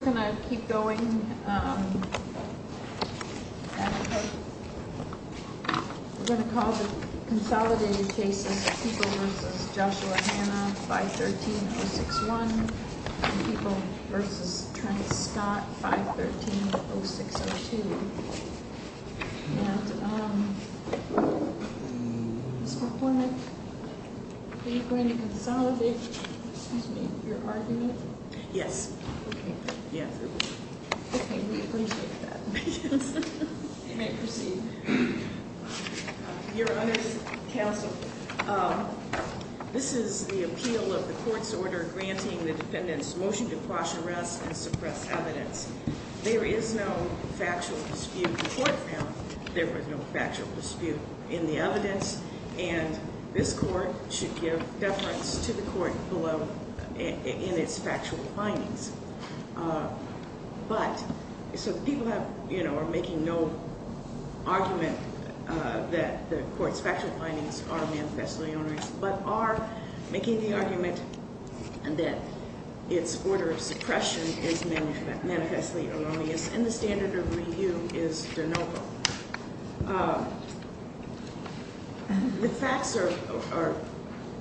We're going to keep going. We're going to call the consolidated cases People v. Joshua Hanna 513-061 and People v. Trent Scott 513-0602. And, Mr. Hornick, are you going to consolidate your argument? Yes. Okay. Yes. Okay, we appreciate that. You may proceed. Your Honor, counsel, this is the appeal of the court's order granting the defendant's motion to quash arrests and suppress evidence. There is no factual dispute in court now. There was no factual dispute in the evidence. And this court should give deference to the court below in its factual findings. But, so the people have, you know, are making no argument that the court's factual findings are manifestly erroneous, but are making the argument that its order of suppression is manifestly erroneous and the standard of review is de novo. The facts are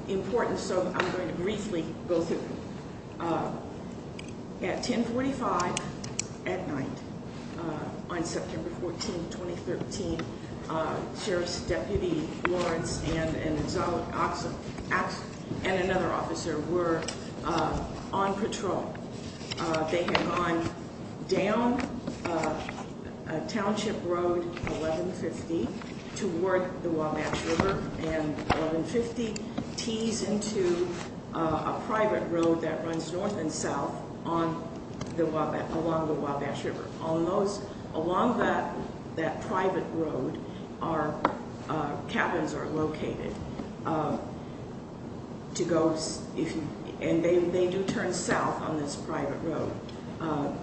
important, so I'm going to briefly go through them. At 1045 at night on September 14, 2013, Sheriff's Deputy Lawrence and another officer were on patrol. They had gone down Township Road 1150 toward the Wabash River, and 1150 tees into a private road that runs north and south along the Wabash River. Along that private road, cabins are located, and they do turn south on this private road.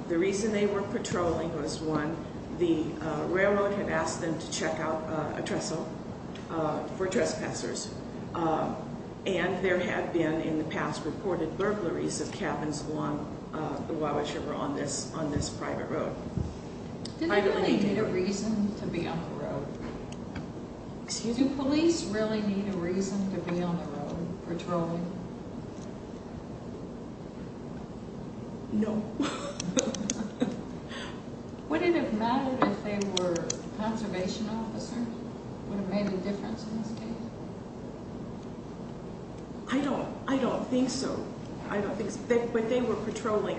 The reason they were patrolling was, one, the railroad had asked them to check out a trestle for trespassers, and there had been, in the past, reported burglaries of cabins along the Wabash River on this private road. Did they really need a reason to be on the road? Excuse me? Do police really need a reason to be on the road patrolling? No. Would it have mattered if they were a conservation officer? Would it have made a difference in this case? I don't think so. I don't think so. But they were patrolling,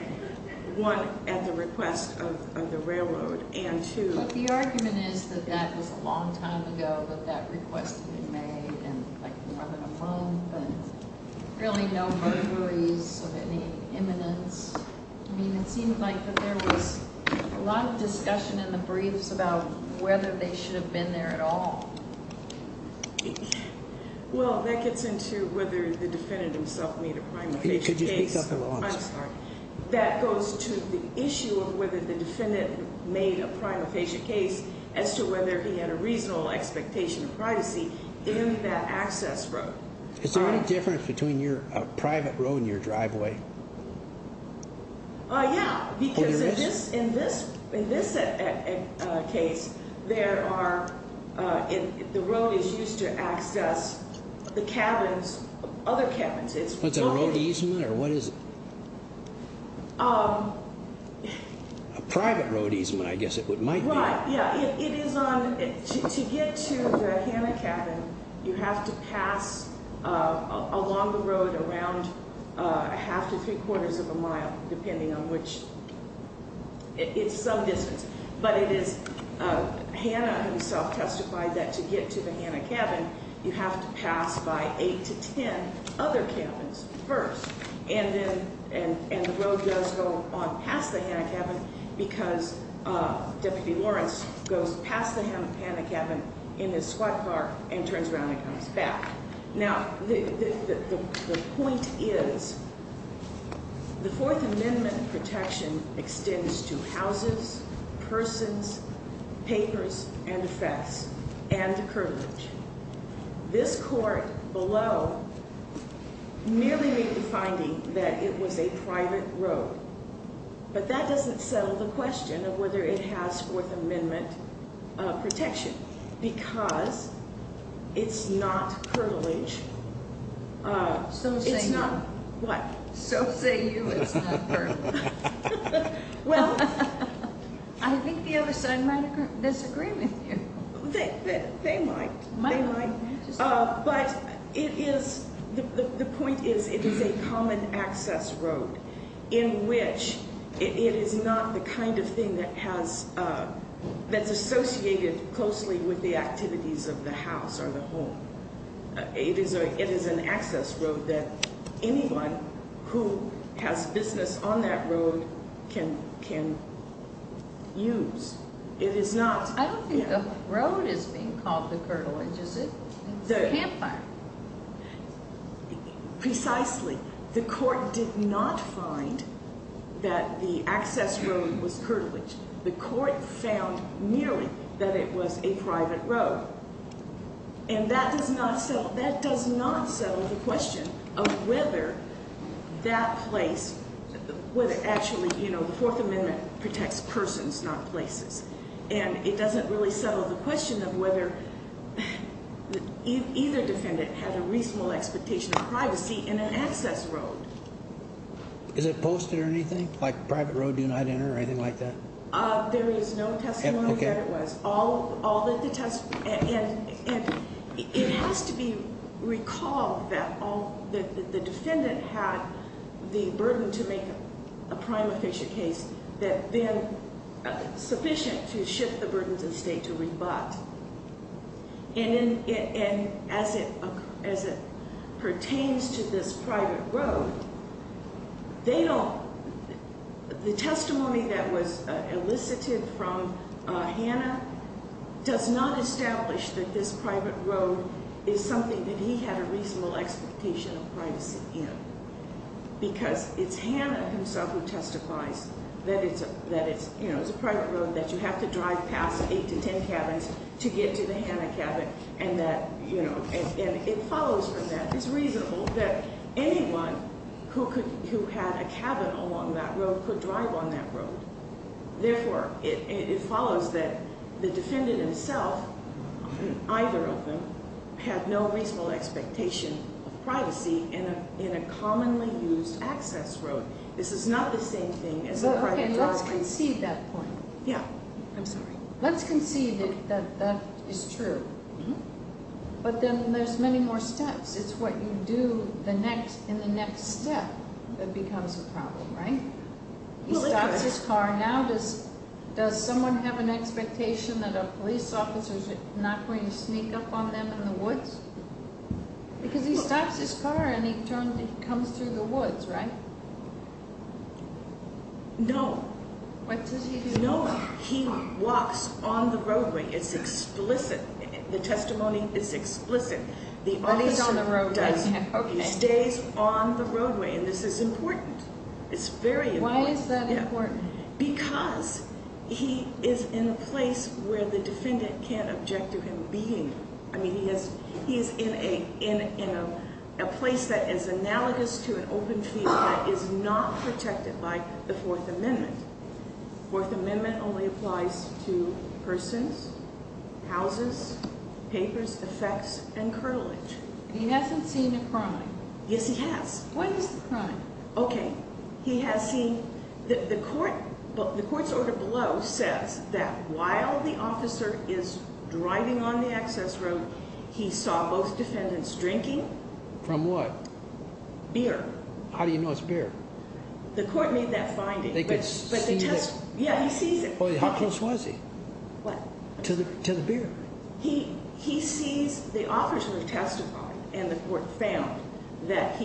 one, at the request of the railroad, and two... But the argument is that that was a long time ago that that request had been made, and, like, more than a month, and really no burglaries of any imminence. I mean, it seemed like that there was a lot of discussion in the briefs about whether they should have been there at all. Well, that gets into whether the defendant himself made a prima facie case. Could you speak up a little? I'm sorry. That goes to the issue of whether the defendant made a prima facie case as to whether he had a reasonable expectation of privacy in that access road. Is there any difference between your private road and your driveway? Yeah, because in this case, the road is used to access the cabins, other cabins. What's a road easement, or what is it? A private road easement, I guess it might be. Right, yeah. It is on... To get to the Hanna cabin, you have to pass along the road around a half to three-quarters of a mile, depending on which... It's some distance. But it is Hanna himself testified that to get to the Hanna cabin, you have to pass by eight to ten other cabins first. And the road does go on past the Hanna cabin because Deputy Lawrence goes past the Hanna cabin in his squat car and turns around and comes back. Now, the point is, the Fourth Amendment protection extends to houses, persons, papers, and effects, and the curtilage. This court below merely made the finding that it was a private road. But that doesn't settle the question of whether it has Fourth Amendment protection, because it's not curtilage. So say you. What? So say you it's not curtilage. I think the other side might disagree with you. They might. They might. But it is... The point is, it is a common access road in which it is not the kind of thing that has... That's associated closely with the activities of the house or the home. It is an access road that anyone who has business on that road can use. It is not... I don't think the road is being called the curtilage, is it? It's a campfire. Precisely. The court did not find that the access road was curtilage. The court found merely that it was a private road. And that does not settle the question of whether that place, whether actually, you know, the Fourth Amendment protects persons, not places. And it doesn't really settle the question of whether either defendant had a reasonable expectation of privacy in an access road. Is it posted or anything? Like, private road do not enter or anything like that? There is no testimony that it was. And it has to be recalled that the defendant had the burden to make a prime official case that then sufficient to shift the burden to the state to rebut. And as it pertains to this private road, they don't... The testimony that was elicited from Hannah does not establish that this private road is something that he had a reasonable expectation of privacy in. Because it's Hannah himself who testifies that it's a private road, that you have to drive past eight to ten cabins to get to the Hannah cabin. And that, you know, it follows from that. It's reasonable that anyone who had a cabin along that road could drive on that road. Therefore, it follows that the defendant himself, either of them, had no reasonable expectation of privacy in a commonly used access road. This is not the same thing as a private driveway. Okay, let's concede that point. Yeah. I'm sorry. Let's concede that that is true. But then there's many more steps. It's what you do in the next step that becomes a problem, right? He stops his car. Now does someone have an expectation that a police officer is not going to sneak up on them in the woods? Because he stops his car and he comes through the woods, right? No. What does he do? No. He walks on the roadway. It's explicit. The testimony is explicit. The officer does. He stays on the roadway. Okay. He stays on the roadway. And this is important. It's very important. Why is that important? Because he is in a place where the defendant can't object to him being there. I mean, he is in a place that is analogous to an open field that is not protected by the Fourth Amendment. The Fourth Amendment only applies to persons, houses, papers, effects, and curtilage. And he hasn't seen a crime. Yes, he has. What is the crime? Okay. He has seen. The court's order below says that while the officer is driving on the access road, he saw both defendants drinking. From what? Beer. How do you know it's beer? The court made that finding. They could see it. Yeah, he sees it. How close was he? What? To the beer. The officers testified and the court found that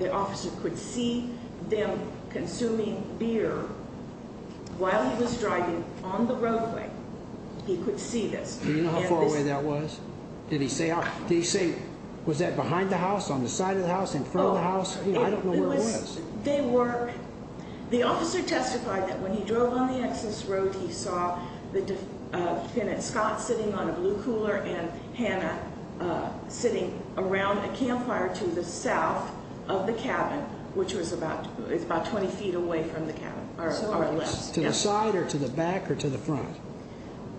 the officer could see them consuming beer while he was driving on the roadway. He could see this. Do you know how far away that was? Did he say, was that behind the house, on the side of the house, in front of the house? I don't know where it was. The officer testified that when he drove on the access road, he saw defendant Scott sitting on a blue cooler and Hannah sitting around a campfire to the south of the cabin, which was about 20 feet away from the cabin. To the side or to the back or to the front?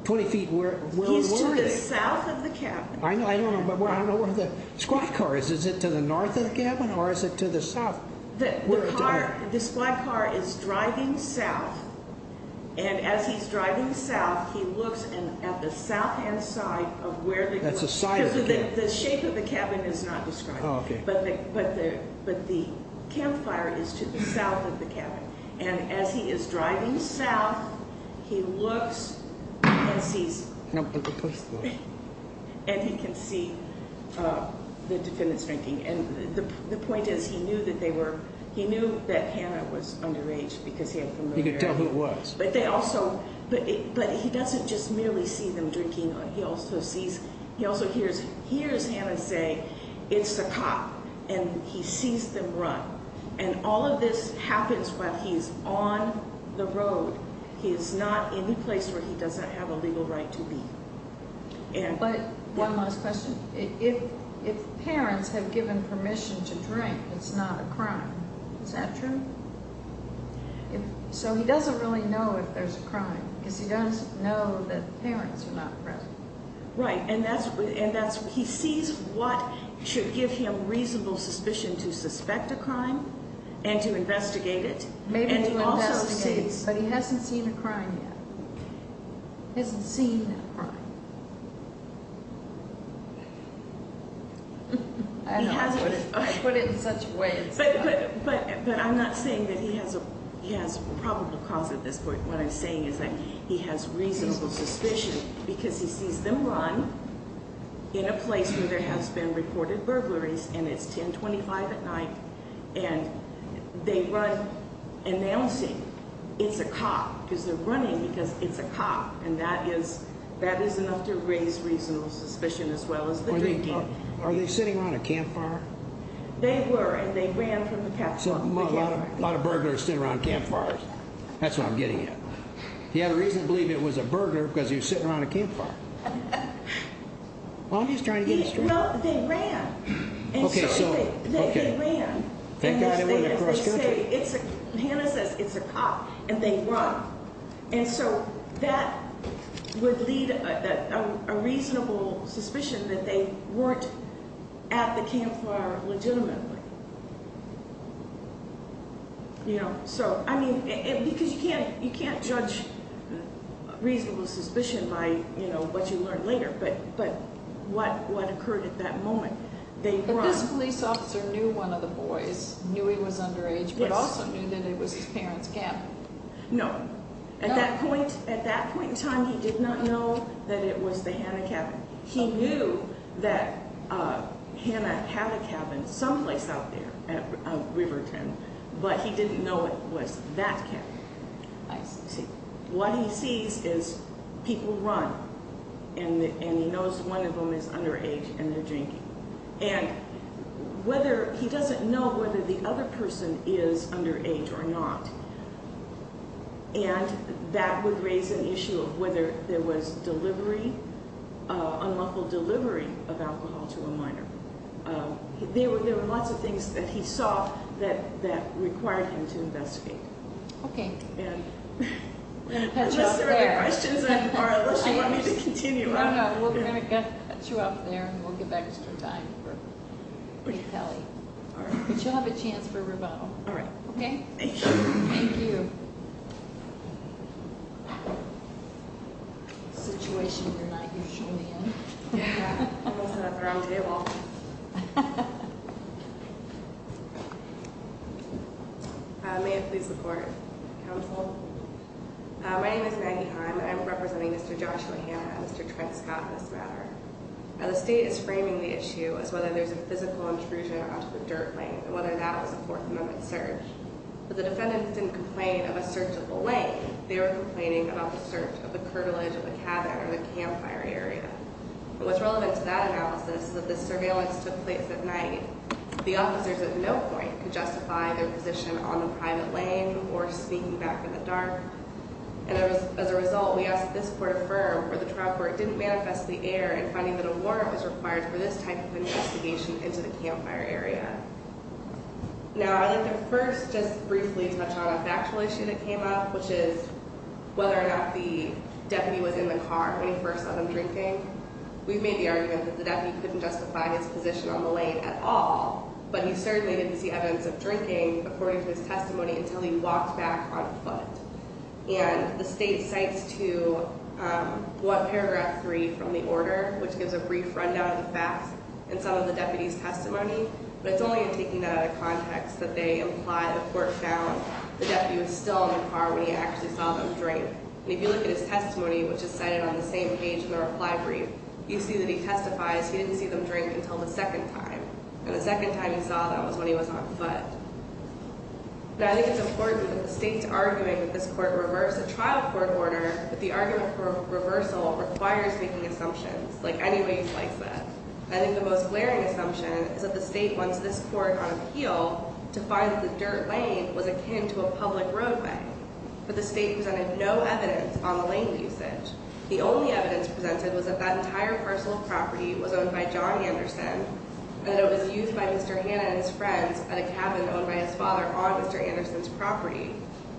20 feet where? He's to the south of the cabin. I don't know where the squad car is. Is it to the north of the cabin or is it to the south? The squad car is driving south, and as he's driving south, he looks at the south hand side of where they were. That's the side of the cabin. The shape of the cabin is not described. Oh, okay. But the campfire is to the south of the cabin. And as he is driving south, he looks and sees. And he can see the defendants drinking. And the point is he knew that Hannah was underage because he had familiarity. He could tell who it was. But he doesn't just merely see them drinking. He also hears Hannah say, it's the cop, and he sees them run. And all of this happens while he's on the road. He is not in a place where he doesn't have a legal right to be. But one last question. If parents have given permission to drink, it's not a crime. Is that true? So he doesn't really know if there's a crime because he doesn't know that parents are not present. Right, and he sees what should give him reasonable suspicion to suspect a crime and to investigate it. Maybe to investigate, but he hasn't seen a crime yet. Hasn't seen a crime. I don't put it in such ways. But I'm not saying that he has a probable cause at this point. What I'm saying is that he has reasonable suspicion because he sees them run in a place where there has been reported burglaries. And it's 1025 at night. And they run announcing it's a cop because they're running because it's a cop. And that is enough to raise reasonable suspicion as well as the drinking. Are they sitting around a campfire? They were, and they ran from the campfire. A lot of burglars sit around campfires. That's what I'm getting at. He had a reason to believe it was a burglar because he was sitting around a campfire. Well, I'm just trying to get a straight answer. No, they ran. Okay, so. They ran. And as they say, Hannah says it's a cop. And they run. And so that would lead a reasonable suspicion that they weren't at the campfire legitimately. You know? So, I mean, because you can't judge reasonable suspicion by, you know, what you learn later. But what occurred at that moment, they run. But this police officer knew one of the boys, knew he was underage, but also knew that it was his parents' camp. No. At that point in time, he did not know that it was the Hannah cabin. He knew that Hannah had a cabin someplace out there at Riverton, but he didn't know it was that cabin. I see. What he sees is people run, and he knows one of them is underage and they're drinking. And whether he doesn't know whether the other person is underage or not, and that would raise an issue of whether there was delivery, unlawful delivery of alcohol to a minor. There were lots of things that he saw that required him to investigate. Okay. Unless there are other questions or unless you want me to continue. No, no. We're going to cut you off there and we'll give extra time for Kelly. But you'll have a chance for rebuttal. All right. Okay? Thank you. Thank you. Situation you're not usually in. I wasn't up around the table. May I please report? Counsel? My name is Maggie Heim. I'm representing Mr. Joshua Hannah and Mr. Trent Scott in this matter. Now, the state is framing the issue as whether there's a physical intrusion onto the dirt lane and whether that was a Fourth Amendment search. But the defendants didn't complain of a search of the lane. They were complaining about the search of the curtilage of the cabin or the campfire area. And what's relevant to that analysis is that the surveillance took place at night. The officers at no point could justify their position on the private lane or sneaking back in the dark. And as a result, we ask that this court affirm for the trial court didn't manifest the error in finding that a warrant was required for this type of investigation into the campfire area. Now, I'd like to first just briefly touch on a factual issue that came up, which is whether or not the deputy was in the car when he first saw them drinking. We've made the argument that the deputy couldn't justify his position on the lane at all, but he certainly didn't see evidence of drinking, according to his testimony, until he walked back on foot. And the state cites to what paragraph three from the order, which gives a brief rundown of the facts in some of the deputy's testimony, but it's only in taking that out of context that they imply the court found the deputy was still in the car when he actually saw them drink. And if you look at his testimony, which is cited on the same page in the reply brief, you see that he testifies he didn't see them drink until the second time. And the second time he saw them was when he was on foot. Now, I think it's important that the state's argument that this court reversed the trial court order, but the argument for reversal requires making assumptions, like any way you slice it. I think the most glaring assumption is that the state wants this court on appeal to find that the dirt lane was akin to a public roadway. But the state presented no evidence on the lane usage. The only evidence presented was that that entire parcel of property was owned by John Anderson, and that it was used by Mr. Hanna and his friends at a cabin owned by his father on Mr. Anderson's property.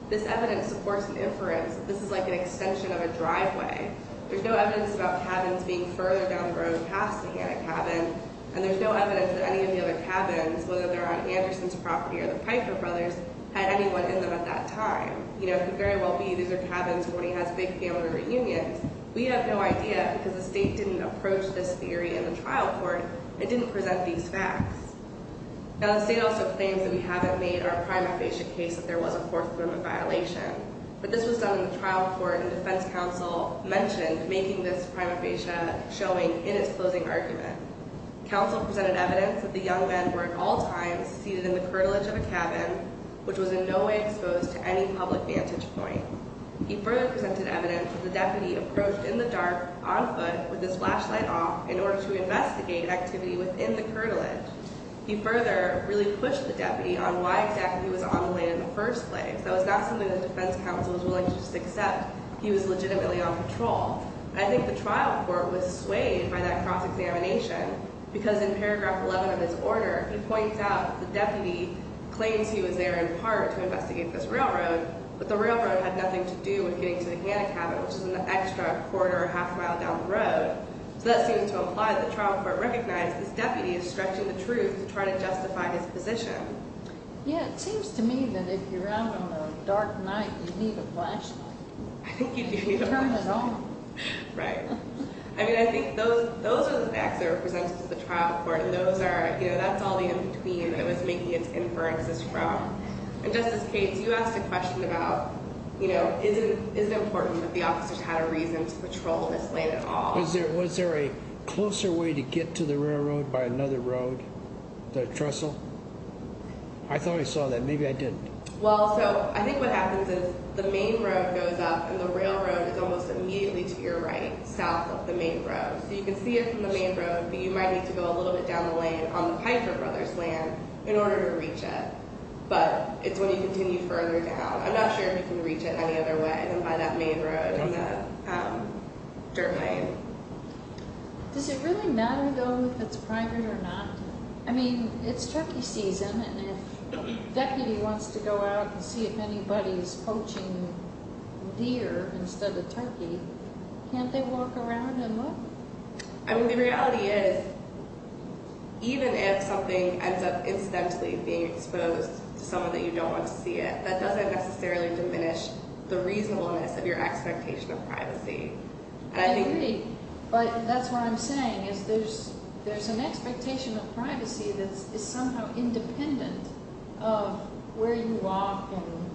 This evidence supports an inference that this is like an extension of a driveway. There's no evidence about cabins being further down the road past the Hanna cabin, and there's no evidence that any of the other cabins, whether they're on Anderson's property or the Piker brothers, had anyone in them at that time. It could very well be these are cabins where he has big family reunions. We have no idea, because the state didn't approach this theory in the trial court and didn't present these facts. Now, the state also claims that we haven't made our prima facie case that there was a fourth woman violation. But this was done in the trial court, and defense counsel mentioned making this prima facie showing in its closing argument. Counsel presented evidence that the young men were at all times seated in the curtilage of a cabin, which was in no way exposed to any public vantage point. He further presented evidence that the deputy approached in the dark, on foot, with his flashlight off, in order to investigate activity within the curtilage. He further really pushed the deputy on why exactly he was on the lane in the first place. That was not something that defense counsel was willing to just accept. He was legitimately on patrol. I think the trial court was swayed by that cross-examination, because in paragraph 11 of his order, he points out the deputy claims he was there in part to investigate this railroad, but the railroad had nothing to do with getting to the Hanna cabin, which is an extra quarter or half mile down the road. So that seems to imply that the trial court recognized this deputy is stretching the truth to try to justify his position. Yeah, it seems to me that if you're out on a dark night, you need a flashlight. I think you do need a flashlight. Turn it on. Right? I mean, I think those are the facts that are presented to the trial court, and that's all the in-between that was making its inferences strong. And Justice Cates, you asked a question about, you know, is it important that the officers had a reason to patrol this lane at all? Was there a closer way to get to the railroad by another road, the trestle? I thought I saw that. Maybe I didn't. Well, so I think what happens is the main road goes up, and the railroad is almost immediately to your right, south of the main road. So you can see it from the main road, but you might need to go a little bit down the lane on the Piper Brothers' land in order to reach it. But it's when you continue further down. I'm not sure if you can reach it any other way than by that main road in the dirt lane. Does it really matter, though, if it's private or not? I mean, it's turkey season, and if a deputy wants to go out and see if anybody's poaching deer instead of turkey, can't they walk around and look? I mean, the reality is even if something ends up incidentally being exposed to someone that you don't want to see it, that doesn't necessarily diminish the reasonableness of your expectation of privacy. I agree, but that's what I'm saying, is there's an expectation of privacy that is somehow independent of where you walk, and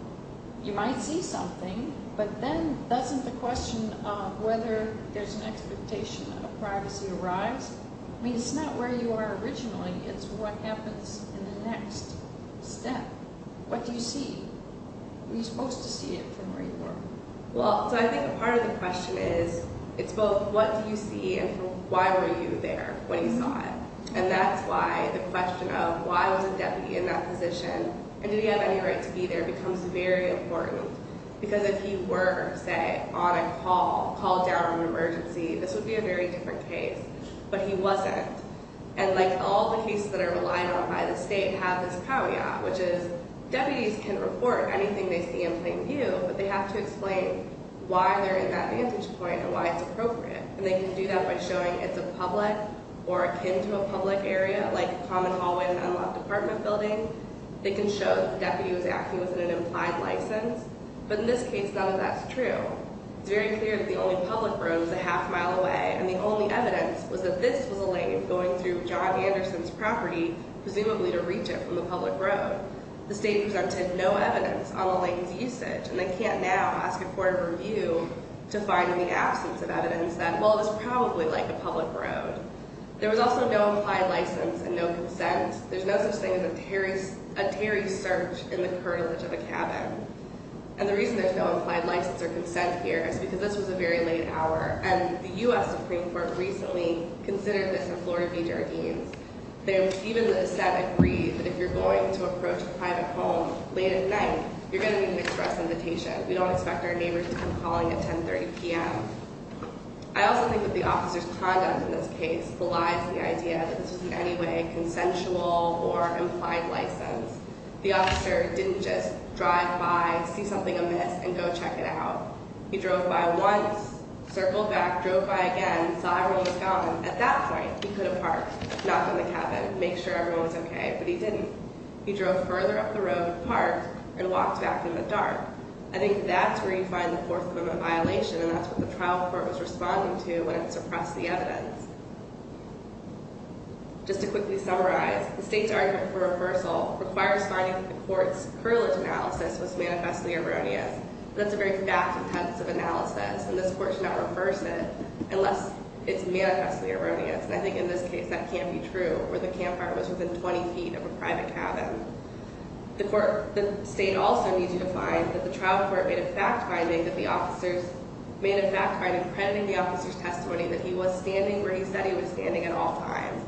you might see something, but then doesn't the question of whether there's an expectation of privacy arise? I mean, it's not where you are originally. It's what happens in the next step. What do you see? Are you supposed to see it from where you are? Well, so I think a part of the question is it's both what do you see and why were you there when you saw it, and that's why the question of why was a deputy in that position and did he have any right to be there becomes very important because if he were, say, on a call, called down an emergency, this would be a very different case, but he wasn't, and like all the cases that are relied on by the state have this caveat, which is deputies can report anything they see in plain view, but they have to explain why they're in that vantage point and why it's appropriate, and they can do that by showing it's a public or akin to a public area, like a common hallway in an unlawed department building. They can show that the deputy was acting within an implied license, but in this case, none of that's true. It's very clear that the only public road was a half mile away, and the only evidence was that this was a lane going through John Anderson's property, presumably to reach it from the public road. The state presented no evidence on the lane's usage, and they can't now ask a court of review to find in the absence of evidence that, well, it was probably like a public road. There was also no implied license and no consent. There's no such thing as a tarry search in the curtilage of a cabin, and the reason there's no implied license or consent here is because this was a very late hour, and the U.S. Supreme Court recently considered this in Florida v. Jardines. They even said, agreed, that if you're going to approach a private home late at night, you're going to need an express invitation. We don't expect our neighbors to come calling at 10.30 p.m. I also think that the officer's conduct in this case belies the idea that this was in any way a consensual or implied license. The officer didn't just drive by, see something amiss, and go check it out. He drove by once, circled back, drove by again, saw everyone was gone. At that point, he could have parked, knocked on the cabin, made sure everyone was okay, but he didn't. He drove further up the road and parked and walked back in the dark. I think that's where you find the Fourth Amendment violation, and that's what the trial court was responding to when it suppressed the evidence. Just to quickly summarize, the state's argument for reversal requires finding that the court's curtilage analysis was manifestly erroneous. That's a very fact-intensive analysis, and this court should not reverse it unless it's manifestly erroneous. I think in this case, that can't be true, where the campfire was within 20 feet of a private cabin. The state also needs you to find that the trial court made a fact finding that the officers made a fact finding crediting the officer's testimony that he was standing where he said he was standing at all times.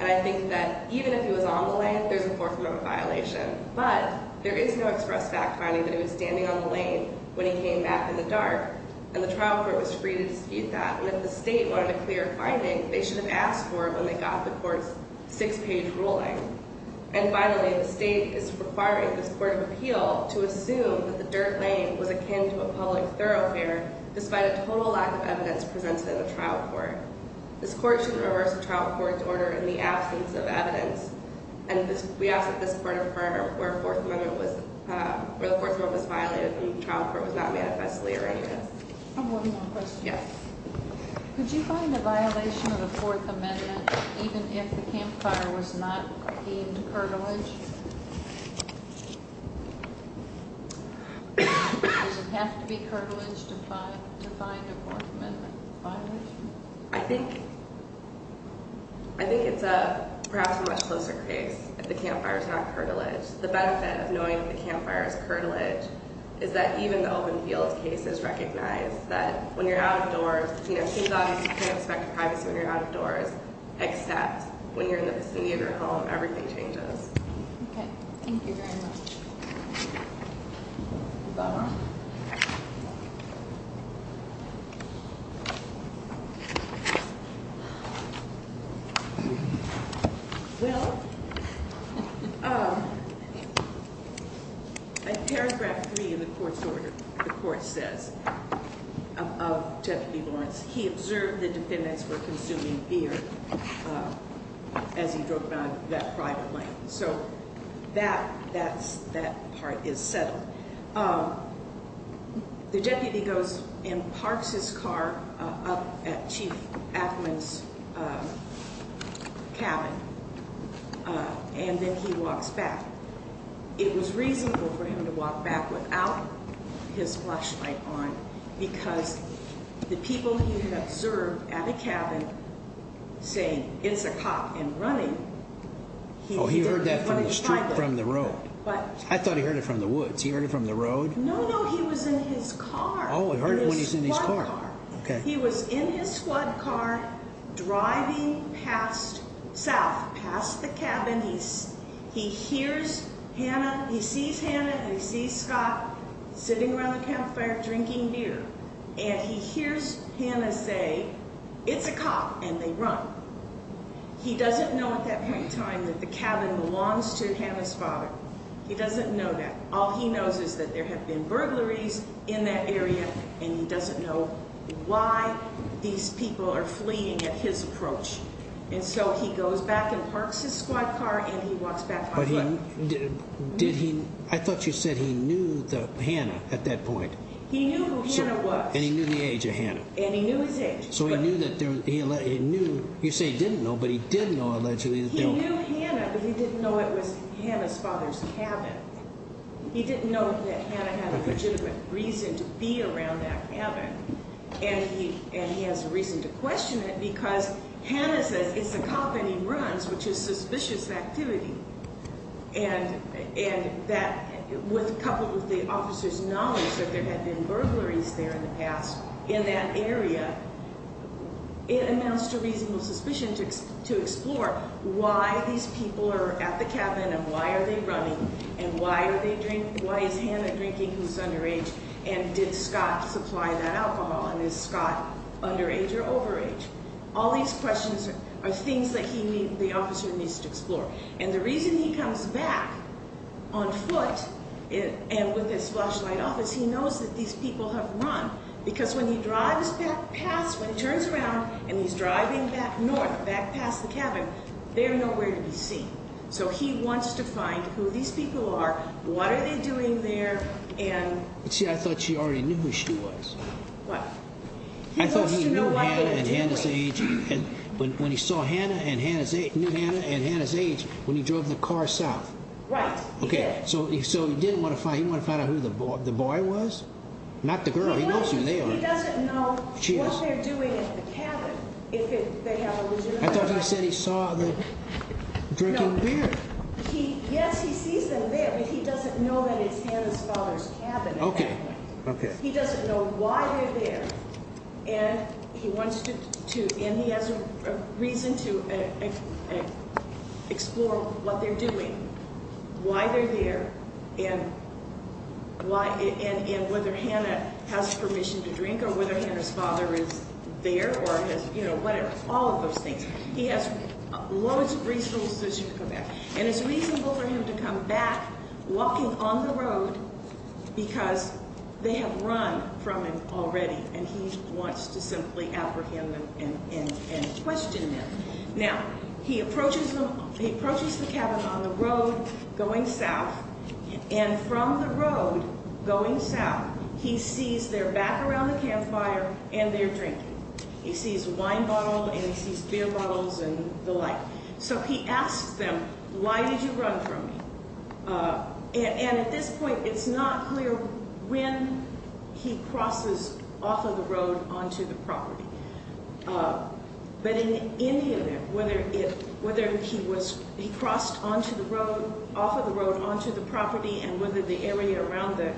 I think that even if he was on the lane, there's a Fourth Amendment violation, but there is no express fact finding that he was standing on the lane when he came back in the dark, and the trial court was free to dispute that. If the state wanted a clear finding, they should have asked for it when they got the court's six-page ruling. Finally, the state is requiring this court of appeal to assume that the dirt lane was akin to a public thoroughfare despite a total lack of evidence presented in the trial court. This court should reverse the trial court's order in the absence of evidence. We ask that this court affirm where the Fourth Amendment was violated and the trial court was not manifestly arraigned against. One more question. Could you find a violation of the Fourth Amendment even if the campfire was not deemed curtilage? Does it have to be curtilage to find a Fourth Amendment violation? I think it's perhaps a much closer case if the campfire is not curtilage. The benefit of knowing that the campfire is curtilage is that even the open field case is recognized that when you're out of doors, it seems obvious you can't expect privacy when you're out of doors, except when you're in the vicinity of your home, everything changes. Okay. Thank you very much. Well, in paragraph 3 of the court's order, the court says, of Deputy Lawrence, he observed the defendants were consuming beer as he drove by that private lane. So that part is settled. The deputy goes and parks his car up at Chief Ackman's cabin, and then he walks back. It was reasonable for him to walk back without his flashlight on because the people he had observed at a cabin saying, it's a cop and running, he heard that from the road. I thought he heard it from the woods. He heard it from the road? No, no, he was in his car. Oh, he heard it when he was in his car. In his squad car. He was in his squad car driving south past the cabin. He hears Hannah, he sees Hannah and he sees Scott sitting around the campfire drinking beer, and he hears Hannah say, it's a cop, and they run. He doesn't know at that point in time that the cabin belongs to Hannah's father. He doesn't know that. All he knows is that there have been burglaries in that area, and he doesn't know why these people are fleeing at his approach. And so he goes back and parks his squad car, and he walks back by foot. I thought you said he knew Hannah at that point. He knew who Hannah was. And he knew the age of Hannah. And he knew his age. So he knew that there was, you say he didn't know, but he did know allegedly. He knew Hannah, but he didn't know it was Hannah's father's cabin. He didn't know that Hannah had a legitimate reason to be around that cabin. And he has a reason to question it because Hannah says it's a cop and he runs, which is suspicious activity. And that, coupled with the officer's knowledge that there had been burglaries there in the past in that area, it amounts to reasonable suspicion to explore why these people are at the cabin and why are they running and why is Hannah drinking who's underage, and did Scott supply that alcohol, and is Scott underage or overage. All these questions are things that the officer needs to explore. And the reason he comes back on foot and with his flashlight off is he knows that these people have run because when he drives back past, when he turns around and he's driving back north, back past the cabin, they're nowhere to be seen. So he wants to find who these people are, what are they doing there, and... See, I thought she already knew who she was. What? I thought he knew Hannah and Hannah's age. When he saw Hannah and knew Hannah and Hannah's age when he drove the car south. Right, he did. Okay, so he didn't want to find, he wanted to find out who the boy was? Not the girl, he knows who they are. He doesn't know what they're doing at the cabin if they have a loser. I thought he said he saw them drinking beer. Yes, he sees them there, but he doesn't know that it's Hannah's father's cabin. Okay, okay. He doesn't know why they're there, and he wants to, and he has a reason to explore what they're doing, why they're there, and whether Hannah has permission to drink, or whether Hannah's father is there, or has, you know, whatever, all of those things. He has loads of resources to come back. And it's reasonable for him to come back walking on the road because they have run from him already, and he wants to simply apprehend them and question them. Now, he approaches the cabin on the road going south, and from the road going south, he sees they're back around the campfire and they're drinking. He sees a wine bottle and he sees beer bottles and the like. So he asks them, why did you run from me? And at this point, it's not clear when he crosses off of the road onto the property. But in any event, whether he crossed off of the road onto the property and whether the area around the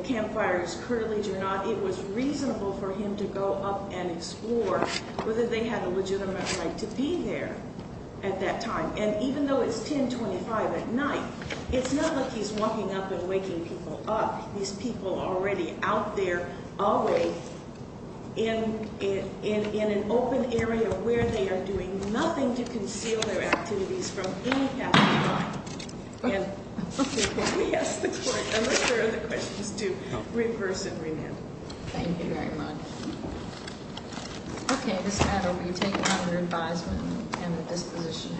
campfire is curdled or not, it was reasonable for him to go up and explore whether they had a legitimate right to be there at that time. And even though it's 1025 at night, it's not like he's walking up and waking people up. These people are already out there, always in an open area where they are doing nothing to conceal their activities from any path of crime. And we ask the court, unless there are other questions, to reverse and remand. Thank you very much. Okay, this matter will be taken under advisement and the disposition of the court.